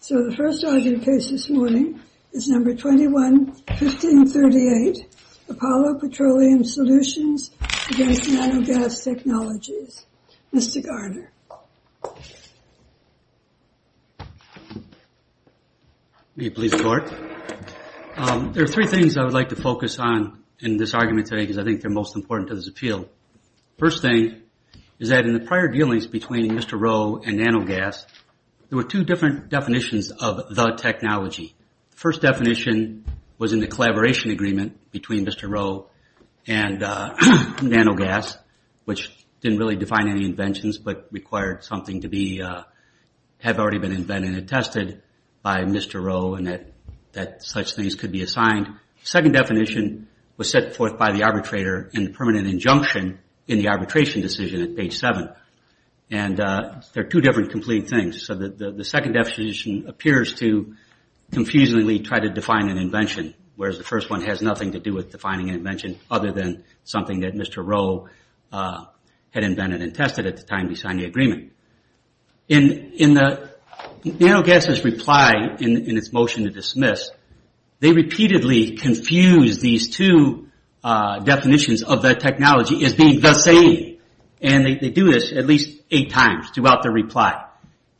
So the first argument case this morning is number 21-1538, Apollo Petroleum Solutions v. Nano Gas Technologies. Mr. Garner. May it please the Court. There are three things I would like to focus on in this argument today, because I think they're most important to this appeal. First thing is that in the prior dealings between Mr. Rowe and Nano Gas, there were two different definitions of the technology. First definition was in the collaboration agreement between Mr. Rowe and Nano Gas, which didn't really define any inventions but required something to have already been invented and tested by Mr. Rowe and that such things could be assigned. Second definition was set forth by the arbitrator in the permanent injunction in the arbitration decision at page 7. And they're two different complete things. So the second definition appears to confusingly try to define an invention, whereas the first one has nothing to do with defining an invention other than something that Mr. Rowe had invented and tested at the time he signed the agreement. In Nano Gas' reply in its motion to dismiss, they repeatedly confuse these two definitions of the technology as being the same. And they do this at least eight times throughout the reply.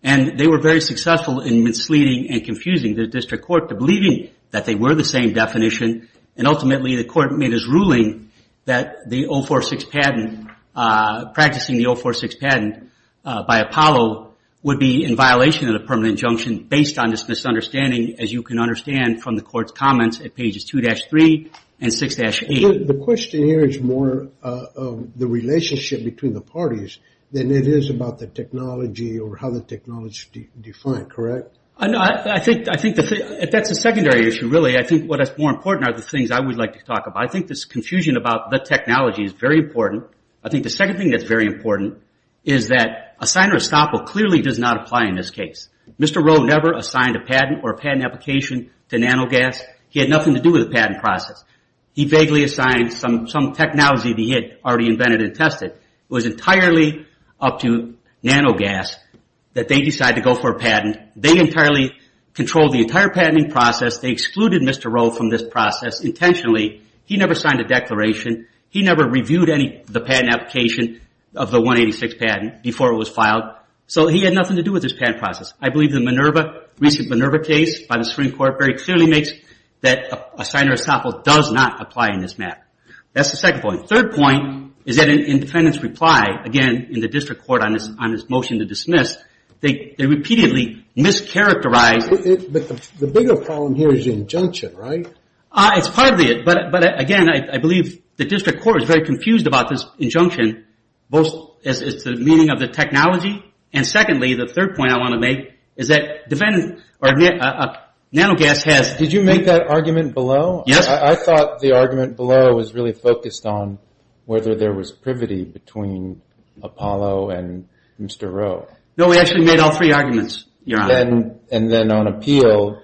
And they were very successful in misleading and confusing the district court to believing that they were the same definition. And ultimately the court made his ruling that the 046 patent, practicing the 046 patent by Apollo, would be in violation of the permanent injunction based on this misunderstanding, as you can understand from the court's comments at pages 2-3 and 6-8. The question here is more of the relationship between the parties than it is about the technology or how the technology is defined, correct? I think that's a secondary issue, really. I think what is more important are the things I would like to talk about. I think this confusion about the technology is very important. I think the second thing that's very important is that Assign or Estoppel clearly does not apply in this case. Mr. Rowe never assigned a patent or a patent application to Nano Gas. He had nothing to do with the patent process. He vaguely assigned some technology that he had already invented and tested. They entirely controlled the entire patenting process. They excluded Mr. Rowe from this process intentionally. He never signed a declaration. He never reviewed the patent application of the 186 patent before it was filed. So he had nothing to do with this patent process. I believe the recent Minerva case by the Supreme Court very clearly makes that Assign or Estoppel does not apply in this matter. That's the second point. Third point is that in the defendant's reply, again, in the district court on his motion to dismiss, they repeatedly mischaracterized... But the bigger problem here is the injunction, right? It's part of it. But again, I believe the district court is very confused about this injunction, both as to the meaning of the technology. And secondly, the third point I want to make is that Nano Gas has... Did you make that argument below? Yes. I thought the argument below was really focused on whether there was privity between Apollo and Mr. Rowe. No, we actually made all three arguments, Your Honor. And then on appeal,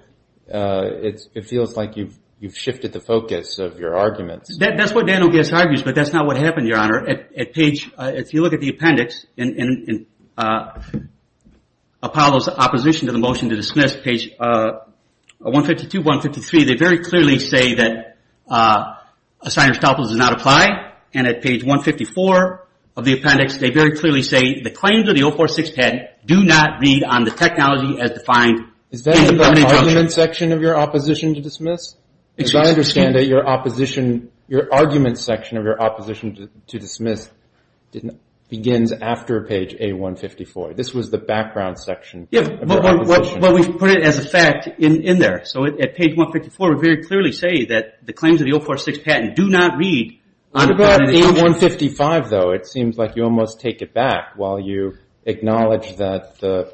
it feels like you've shifted the focus of your arguments. That's what Nano Gas argues, but that's not what happened, Your Honor. If you look at the appendix in Apollo's opposition to the motion to dismiss, page 152, 153, they very clearly say that Assign or Estoppel does not apply. And at page 154 of the appendix, they very clearly say the claims of the 046 patent do not read on the technology as defined. Is that in the argument section of your opposition to dismiss? Because I understand that your argument section of your opposition to dismiss begins after page A154. This was the background section. Yeah, but we've put it as a fact in there. So at page 154, we very clearly say that the claims of the 046 patent do not read on the technology as defined. On page 155, though, it seems like you almost take it back while you acknowledge that the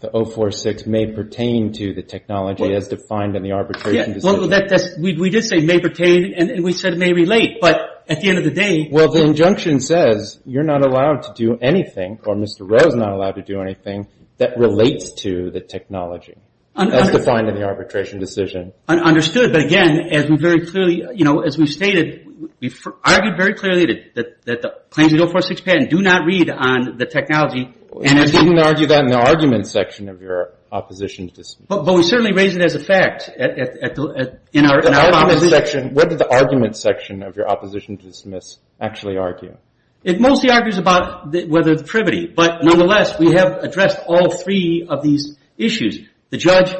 046 may pertain to the technology as defined in the arbitration decision. We did say may pertain, and we said it may relate, but at the end of the day... Well, the injunction says you're not allowed to do anything, or Mr. Rowe's not allowed to do anything that relates to the technology as defined in the arbitration decision. Understood, but again, as we've stated, we've argued very clearly that the claims of the 046 patent do not read on the technology and as... You didn't argue that in the argument section of your opposition to dismiss. But we certainly raise it as a fact in our... What did the argument section of your opposition to dismiss actually argue? It mostly argues about whether the privity, but nonetheless, we have addressed all three of these issues. The judge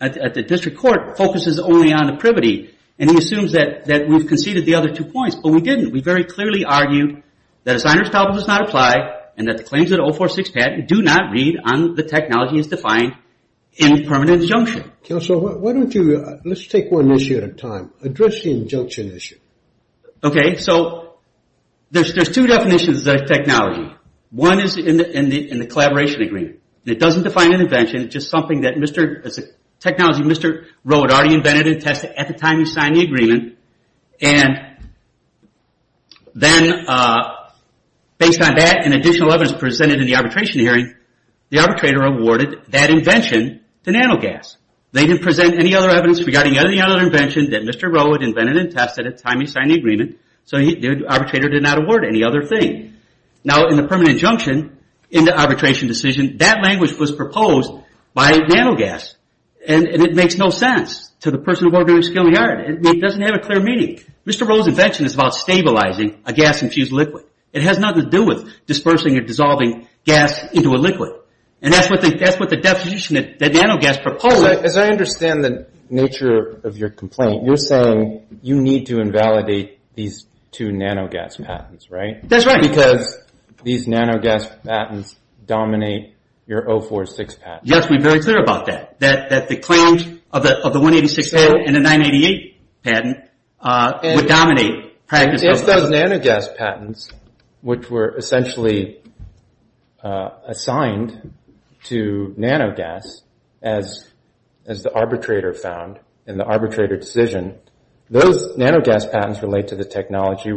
at the district court focuses only on the privity, and he assumes that we've conceded the other two points, but we didn't. We very clearly argued that a signer's problem does not apply and that the claims of the 046 patent do not read on the technology as defined in the permanent injunction. Counsel, why don't you... Let's take one issue at a time. Address the injunction issue. Okay, so there's two definitions of technology. One is in the collaboration agreement. It doesn't define an invention. It's just something that Mr... It's a technology Mr. Rowe had already invented and tested at the time he signed the agreement. And then based on that and additional evidence presented in the arbitration hearing, the arbitrator awarded that invention to NanoGas. They didn't present any other evidence regarding any other invention that Mr. Rowe had invented and tested at the time he signed the agreement. So the arbitrator did not award any other thing. Now, in the permanent injunction, in the arbitration decision, that language was proposed by NanoGas, and it makes no sense to the person who's working in the skill yard. It doesn't have a clear meaning. Mr. Rowe's invention is about stabilizing a gas-infused liquid. It has nothing to do with dispersing or dissolving gas into a liquid. And that's what the definition that NanoGas proposed... As I understand the nature of your complaint, you're saying you need to invalidate these two NanoGas patents, right? That's right. Because these NanoGas patents dominate your 046 patents. You have to be very clear about that, that the claims of the 186 patent and the 988 patent would dominate practice... If those NanoGas patents, which were essentially assigned to NanoGas, as the arbitrator found in the arbitrator decision, those NanoGas patents relate to the technology.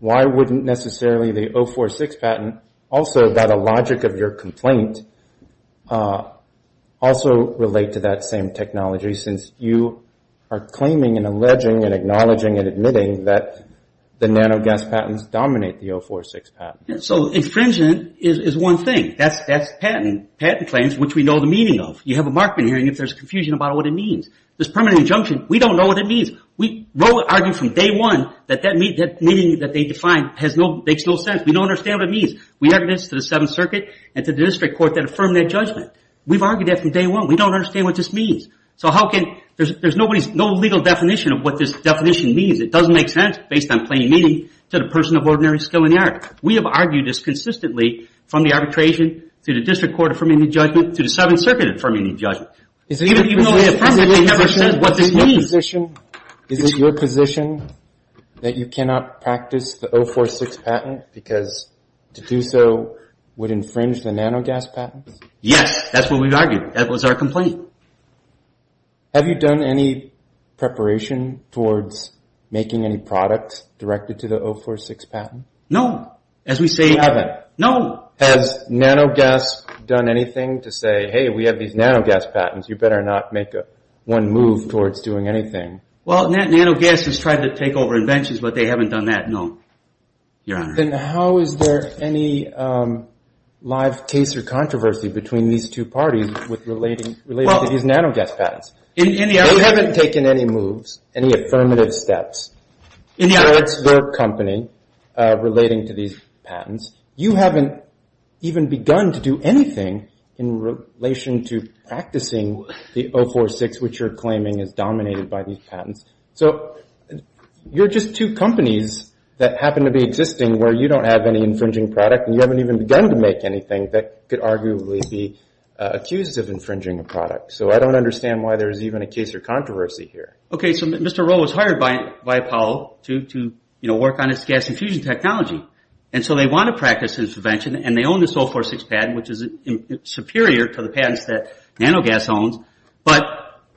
Why wouldn't necessarily the 046 patent, also by the logic of your complaint, also relate to that same technology, since you are claiming and alleging and acknowledging and admitting that the NanoGas patents dominate the 046 patent? So infringement is one thing. That's patent claims, which we know the meaning of. You have a Markman hearing if there's confusion about what it means. This permanent injunction, we don't know what it means. We argued from day one that that meaning that they defined makes no sense. We don't understand what it means. We argued this to the Seventh Circuit and to the district court that affirmed that judgment. We've argued that from day one. We don't understand what this means. So how can... There's no legal definition of what this definition means. It doesn't make sense based on plain meaning to the person of ordinary skill in the art. We have argued this consistently from the arbitration to the district court affirming the judgment to the Seventh Circuit affirming the judgment. Even though the president never said what this means. Is it your position that you cannot practice the 046 patent because to do so would infringe the NanoGas patents? Yes. That's what we've argued. That was our complaint. Have you done any preparation towards making any product directed to the 046 patent? No. As we say... You haven't. No. Has NanoGas done anything to say, hey, we have these NanoGas patents. You better not make one move towards doing anything. Well, NanoGas has tried to take over inventions, but they haven't done that, no. Your Honor. Then how is there any live case or controversy between these two parties relating to these NanoGas patents? They haven't taken any moves, any affirmative steps towards their company relating to these patents. You haven't even begun to do anything in relation to practicing the 046, which you're claiming is dominated by these patents. So you're just two companies that happen to be existing where you don't have any infringing product, and you haven't even begun to make anything that could arguably be accused of infringing a product. So I don't understand why there's even a case or controversy here. Okay, so Mr. Rowe was hired by Powell to work on his gas infusion technology. And so they want to practice his invention, and they own this 046 patent, which is superior to the patents that NanoGas owns. But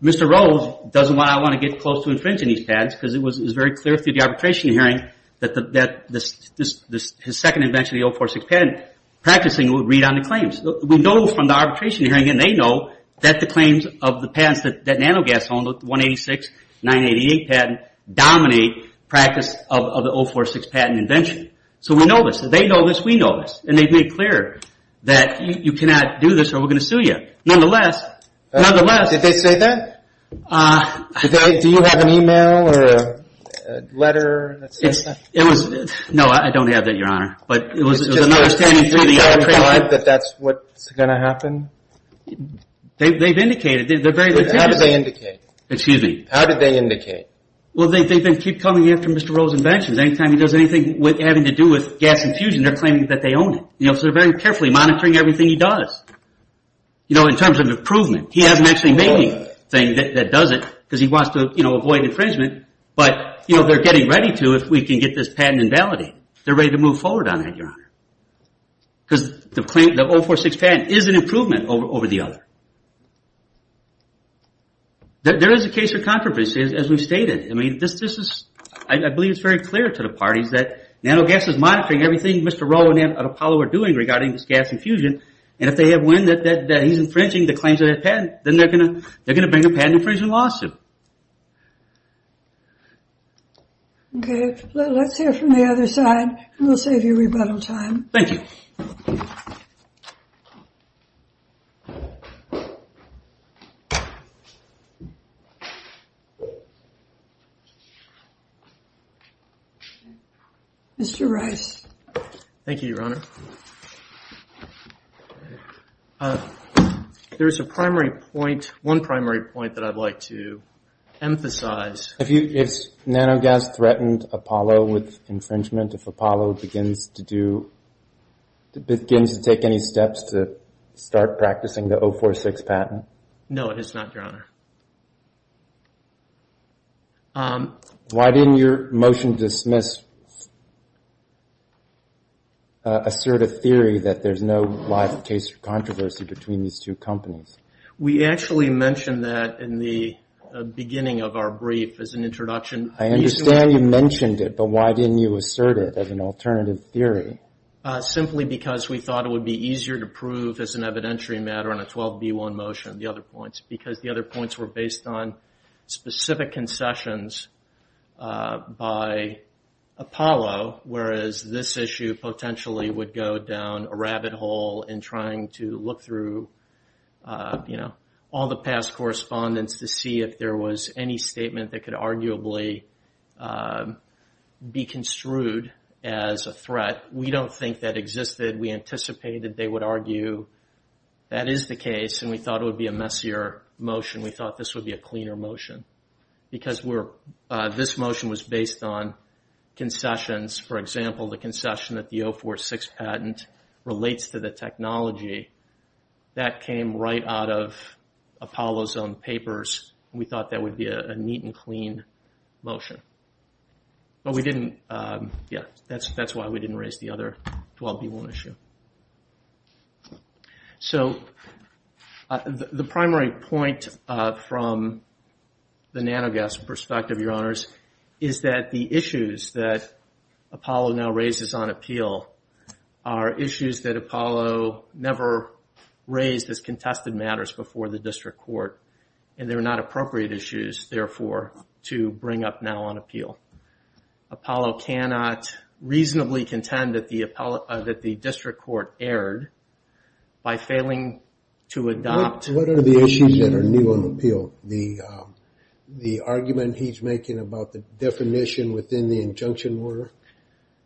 Mr. Rowe doesn't want to get close to infringing these patents because it was very clear through the arbitration hearing that his second invention, the 046 patent, practicing would read on the claims. We know from the arbitration hearing, and they know, that the claims of the patents that NanoGas owns, the 186, 988 patent, dominate practice of the 046 patent invention. So we know this. They know this. We know this. And they've made clear that you cannot do this or we're going to sue you. Nonetheless. Nonetheless. Did they say that? No, I don't have that, Your Honor. Did they provide that that's what's going to happen? They've indicated. How did they indicate? Excuse me. How did they indicate? Well, they keep coming after Mr. Rowe's inventions. Anytime he does anything having to do with gas infusion, they're claiming that they own it. So they're very carefully monitoring everything he does. You know, in terms of improvement. He hasn't actually made anything that does it because he wants to avoid infringement. But they're getting ready to if we can get this patent invalidated. They're ready to move forward on it, Your Honor. Because the 046 patent is an improvement over the other. There is a case for controversy, as we've stated. I mean, I believe it's very clear to the parties that nanogas is monitoring everything Mr. Rowe and Apollo are doing regarding this gas infusion. And if they have wind that he's infringing the claims of that patent, then they're going to bring a patent infringement lawsuit. Okay. Let's hear from the other side and we'll save you rebuttal time. Thank you. Thank you, Your Honor. There is a primary point, one primary point that I'd like to emphasize. If nanogas threatened Apollo with infringement, if Apollo begins to do, begins to take any steps to start practicing the 046 patent? Your Honor. Why didn't your motion dismiss assert a theory that there's no life, case, or controversy between these two companies? We actually mentioned that in the beginning of our brief as an introduction. I understand you mentioned it, but why didn't you assert it as an alternative theory? Simply because we thought it would be easier to prove as an evidentiary matter on a 12B1 motion, the other points, because the other points were based on specific concessions by Apollo, whereas this issue potentially would go down a rabbit hole in trying to look through, you know, all the past correspondence to see if there was any statement that could arguably be construed as a threat. We don't think that existed. We anticipated they would argue that is the case, and we thought it would be a messier motion. We thought this would be a cleaner motion because this motion was based on concessions. For example, the concession that the 046 patent relates to the technology, that came right out of Apollo's own papers. We thought that would be a neat and clean motion. But we didn't, yeah, that's why we didn't raise the other 12B1 issue. So, the primary point from the NanoGuess perspective, Your Honors, is that the issues that Apollo now raises on appeal are issues that Apollo never raised as contested matters before the district court, and they're not appropriate issues, therefore, to bring up now on appeal. Apollo cannot reasonably contend that the district court erred by failing to adopt... What are the issues that are new on appeal? The argument he's making about the definition within the injunction order?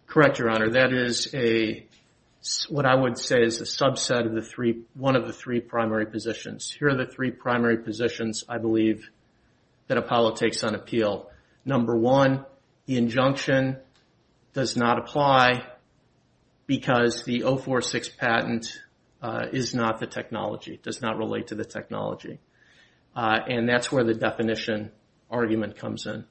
Correct, Your Honor. That is what I would say is a subset of one of the three primary positions. Here are the three primary positions, I believe, that Apollo takes on appeal. Number one, the injunction does not apply because the 046 patent is not the technology. It does not relate to the technology. And that's where the definition argument comes in.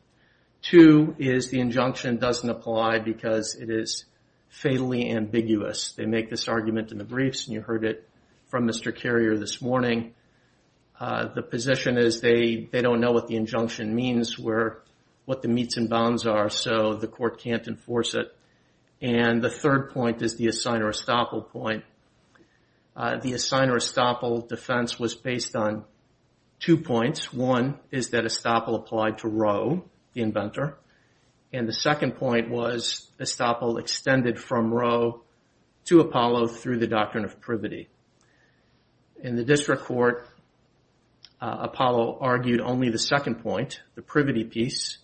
Two is the injunction doesn't apply because it is fatally ambiguous. They make this argument in the briefs, and you heard it from Mr. Carrier this morning. The position is they don't know what the injunction means, what the meets and bounds are, so the court can't enforce it. And the third point is the Assign or Estoppel point. The Assign or Estoppel defense was based on two points. One is that Estoppel applied to Rowe, the inventor. And the second point was Estoppel extended from Rowe to Apollo through the doctrine of privity. In the district court, Apollo argued only the second point, the privity piece,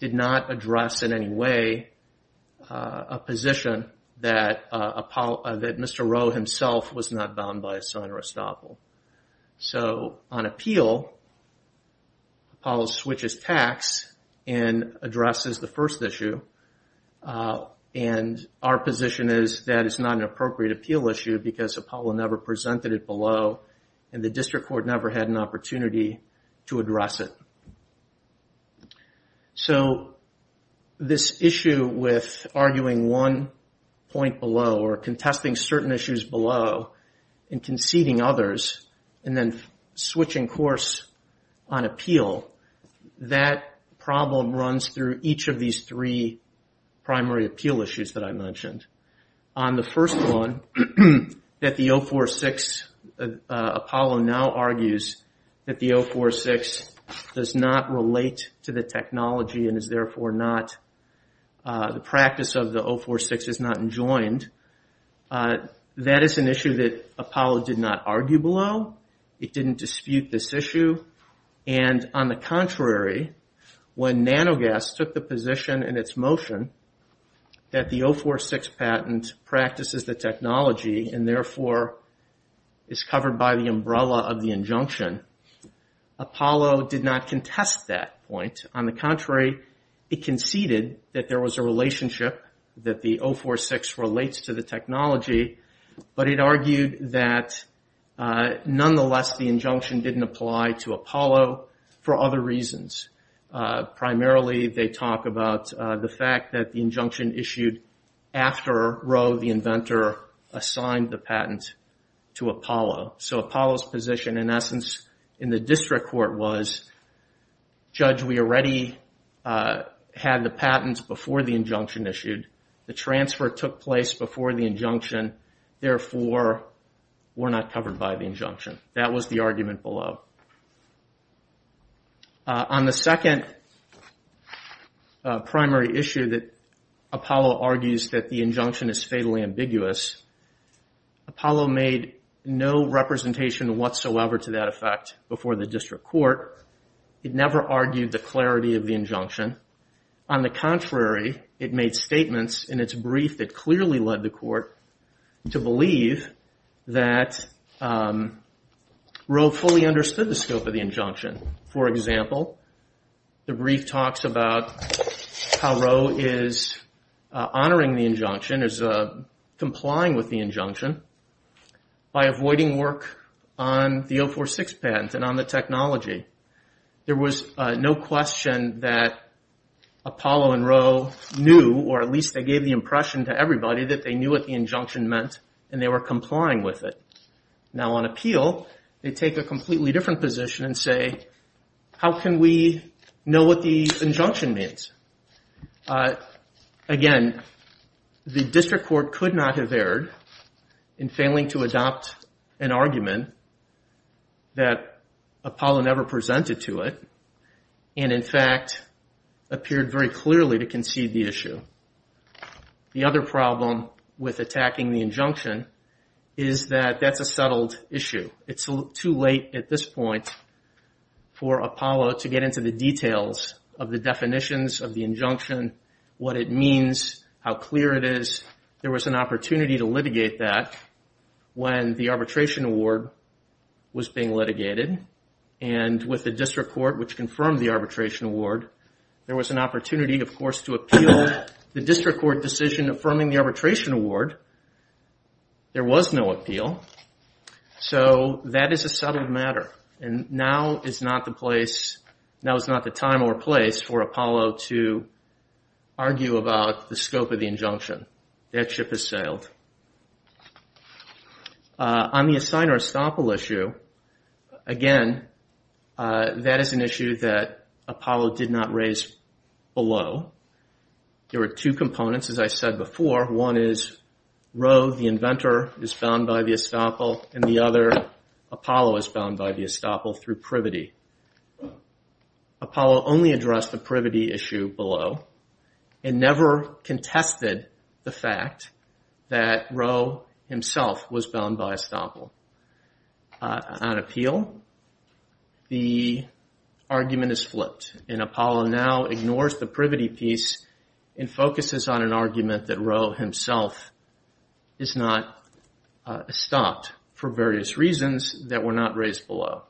did not address in any way a position that Mr. Rowe himself was not bound by Assign or Estoppel. So on appeal, Apollo switches tacks and addresses the first issue. And our position is that it's not an appropriate appeal issue because Apollo never presented it below, and the district court never had an opportunity to address it. So this issue with arguing one point below or contesting certain issues below and conceding others and then switching course on appeal, that problem runs through each of these three primary appeal issues that I mentioned. On the first one, that the 046, Apollo now argues that the 046 does not relate to the technology and is therefore not, the practice of the 046 is not enjoined. That is an issue that Apollo did not argue below. It didn't dispute this issue. And on the contrary, when Nanogas took the position in its motion that the 046 patent practices the technology and therefore is covered by the umbrella of the injunction, Apollo did not contest that point. On the contrary, it conceded that there was a relationship that the 046 relates to the technology, but it argued that nonetheless the injunction didn't apply to Apollo for other reasons. Primarily they talk about the fact that the injunction issued after Rowe, the inventor, assigned the patent to Apollo. So Apollo's position in essence in the district court was, Judge, we already had the patent before the injunction issued. The transfer took place before the injunction. Therefore, we're not covered by the injunction. That was the argument below. On the second primary issue that Apollo argues that the injunction is fatally ambiguous, Apollo made no representation whatsoever to that effect before the district court. It never argued the clarity of the injunction. On the contrary, it made statements in its brief that clearly led the court to believe that Rowe fully understood the scope of the injunction. For example, the brief talks about how Rowe is honoring the injunction, is complying with the injunction, by avoiding work on the 046 patent and on the technology. There was no question that Apollo and Rowe knew, or at least they gave the impression to everybody that they knew what the injunction meant and they were complying with it. Now on appeal, they take a completely different position and say, how can we know what the injunction means? Again, the district court could not have erred in failing to adopt an argument that Apollo never presented to it and, in fact, appeared very clearly to concede the issue. The other problem with attacking the injunction is that that's a settled issue. It's too late at this point for Apollo to get into the details of the definitions of the injunction, what it means, how clear it is. There was an opportunity to litigate that when the arbitration award was being litigated and with the district court, which confirmed the arbitration award, there was an opportunity, of course, to appeal but with the district court decision affirming the arbitration award, there was no appeal. So that is a settled matter and now is not the place, now is not the time or place for Apollo to argue about the scope of the injunction. That ship has sailed. On the Assign or Estoppel issue, again, that is an issue that Apollo did not raise below. There were two components, as I said before. One is Rowe, the inventor, is bound by the Estoppel and the other, Apollo is bound by the Estoppel through privity. Apollo only addressed the privity issue below and never contested the fact that Rowe himself was bound by Estoppel. On appeal, the argument is flipped and Apollo now ignores the privity piece and focuses on an argument that Rowe himself is not stopped for various reasons that were not raised below.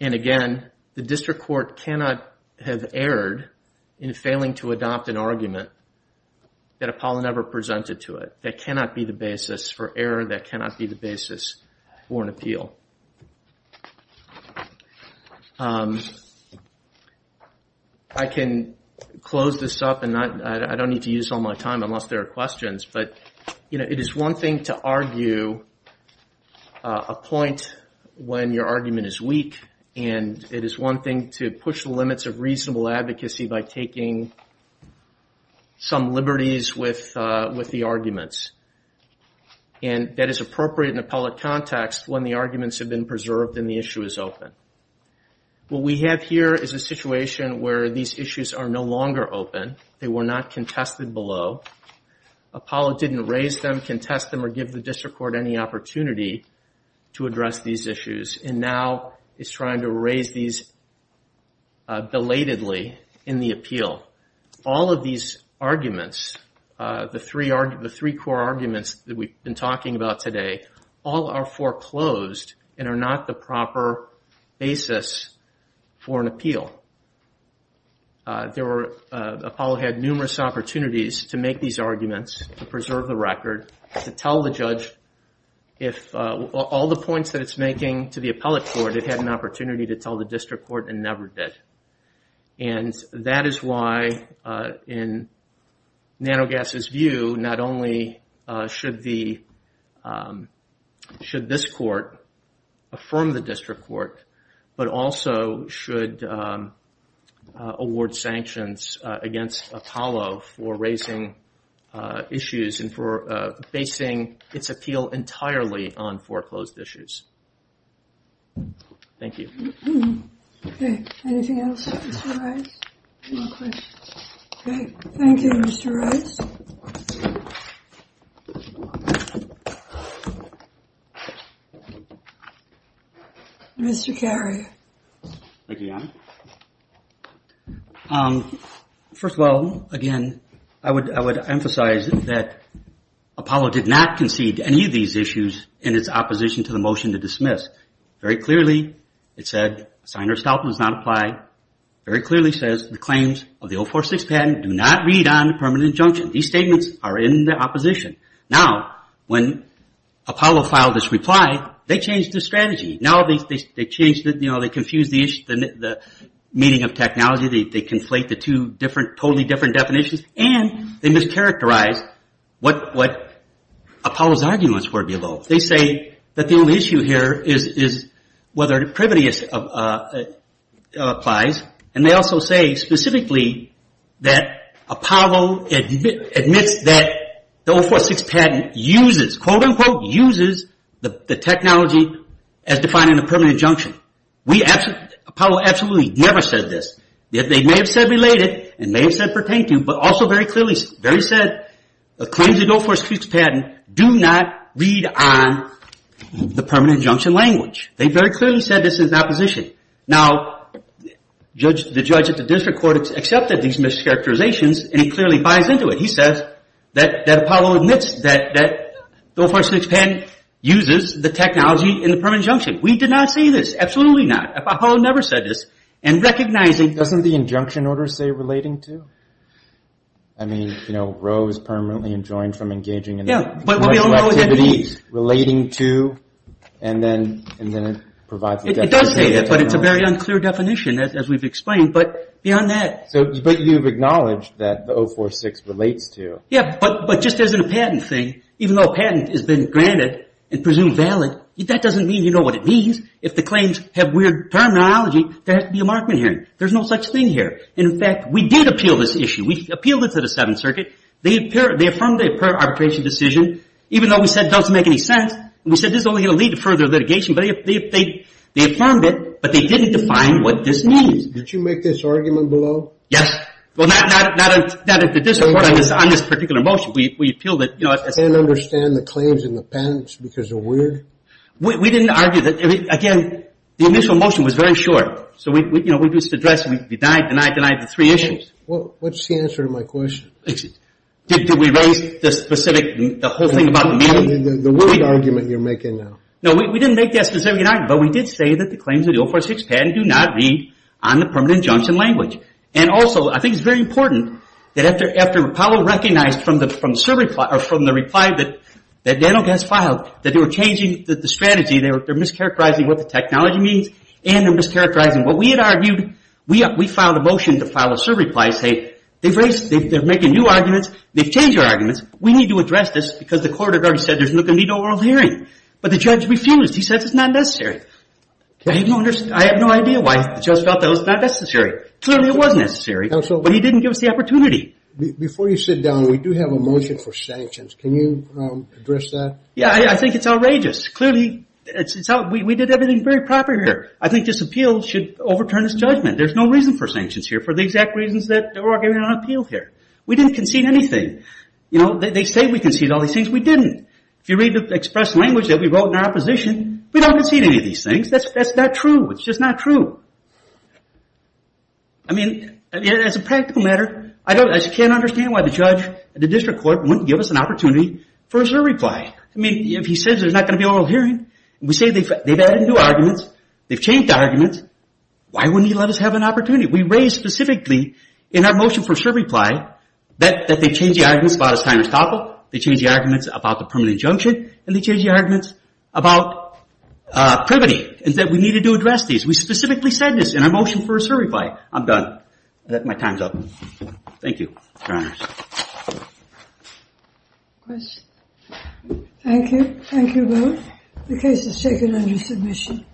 And again, the district court cannot have erred in failing to adopt an argument that Apollo never presented to it. That cannot be the basis for error. That cannot be the basis for an appeal. I can close this up and I don't need to use all my time unless there are questions. But it is one thing to argue a point when your argument is weak and it is one thing to push the limits of reasonable advocacy by taking some liberties with the arguments. And that is appropriate in an appellate context when the arguments have been preserved and the issue is open. What we have here is a situation where these issues are no longer open. They were not contested below. Apollo didn't raise them, contest them, or give the district court any opportunity to address these issues and now is trying to raise these belatedly in the appeal. All of these arguments, the three core arguments that we've been talking about today, all are foreclosed and are not the proper basis for an appeal. Apollo had numerous opportunities to make these arguments, to preserve the record, to tell the judge all the points that it's making to the appellate court it had an opportunity to tell the district court and never did. And that is why, in NanoGas's view, not only should this court affirm the district court, but also should award sanctions against Apollo for raising issues and for basing its appeal entirely on foreclosed issues. Thank you. Anything else, Mr. Rice? Thank you, Mr. Rice. Mr. Carey. Thank you, Your Honor. First of all, again, I would emphasize that Apollo did not concede any of these issues in its opposition to the motion to dismiss. Very clearly, it said, sign or stop does not apply. Very clearly says the claims of the 046 patent do not read on permanent injunction. These statements are in the opposition. Now, when Apollo filed this reply, they changed their strategy. Now they confuse the meaning of technology. They conflate the two totally different definitions. And they mischaracterized what Apollo's arguments were below. They say that the only issue here is whether privity applies. And they also say, specifically, that Apollo admits that the 046 patent uses, quote unquote, uses the technology as defined in a permanent injunction. Apollo absolutely never said this. They may have said related and may have said pertain to, but also very clearly, very said, the claims of the 046 patent do not read on the permanent injunction language. They very clearly said this in opposition. Now, the judge at the district court accepted these mischaracterizations and he clearly buys into it. He says that Apollo admits that the 046 patent uses the technology in the permanent injunction. We did not say this. Absolutely not. Apollo never said this. And recognizing... Doesn't the injunction order say relating to? I mean, you know, Roe is permanently enjoined from engaging in... Yeah, but we all know what that means. Relating to, and then it provides... It does say that, but it's a very unclear definition, as we've explained. But beyond that... But you've acknowledged that the 046 relates to. Yeah, but just as a patent thing, even though a patent has been granted and presumed valid, that doesn't mean you know what it means. If the claims have weird terminology, there has to be a markment here. There's no such thing here. And, in fact, we did appeal this issue. We appealed it to the Seventh Circuit. They affirmed the arbitration decision, even though we said it doesn't make any sense. We said this is only going to lead to further litigation, but they affirmed it, but they didn't define what this means. Did you make this argument below? Yes. Well, not on this particular motion. We appealed it. You can't understand the claims in the patents because they're weird? We didn't argue that. Again, the initial motion was very short. So, you know, we just addressed. We denied, denied, denied the three issues. What's the answer to my question? Did we raise the specific, the whole thing about the meaning? The weird argument you're making now. No, we didn't make that specific argument, but we did say that the claims of the 046 patent do not read on the permanent injunction language. And, also, I think it's very important that, after Powell recognized from the reply that Daniel Guest filed that they were changing the strategy, they're mischaracterizing what the technology means, and they're mischaracterizing what we had argued, we filed a motion to file a survey reply saying, they're making new arguments, they've changed their arguments, we need to address this because the court had already said there's not going to be an oral hearing. But the judge refused. He says it's not necessary. I have no idea why the judge felt that it was not necessary. Clearly, it was necessary, but he didn't give us the opportunity. Before you sit down, we do have a motion for sanctions. Can you address that? Yeah, I think it's outrageous. Clearly, we did everything very properly here. I think this appeal should overturn this judgment. There's no reason for sanctions here, for the exact reasons that we're arguing on appeal here. We didn't concede anything. You know, they say we conceded all these things. We didn't. If you read the express language that we wrote in our opposition, we don't concede any of these things. That's not true. It's just not true. I mean, as a practical matter, I just can't understand why the judge, the district court, wouldn't give us an opportunity for a survey reply. I mean, if he says there's not going to be an oral hearing, and we say they've added new arguments, they've changed the arguments, why wouldn't he let us have an opportunity? We raised specifically in our motion for survey reply that they've changed the arguments about a time to stop it, they changed the arguments about the permanent injunction, and they changed the arguments about privity, and that we needed to address these. We specifically said this in our motion for a survey reply. I'm done. My time's up. Thank you, Your Honors. Questions? Thank you. Thank you both. The case is taken under submission.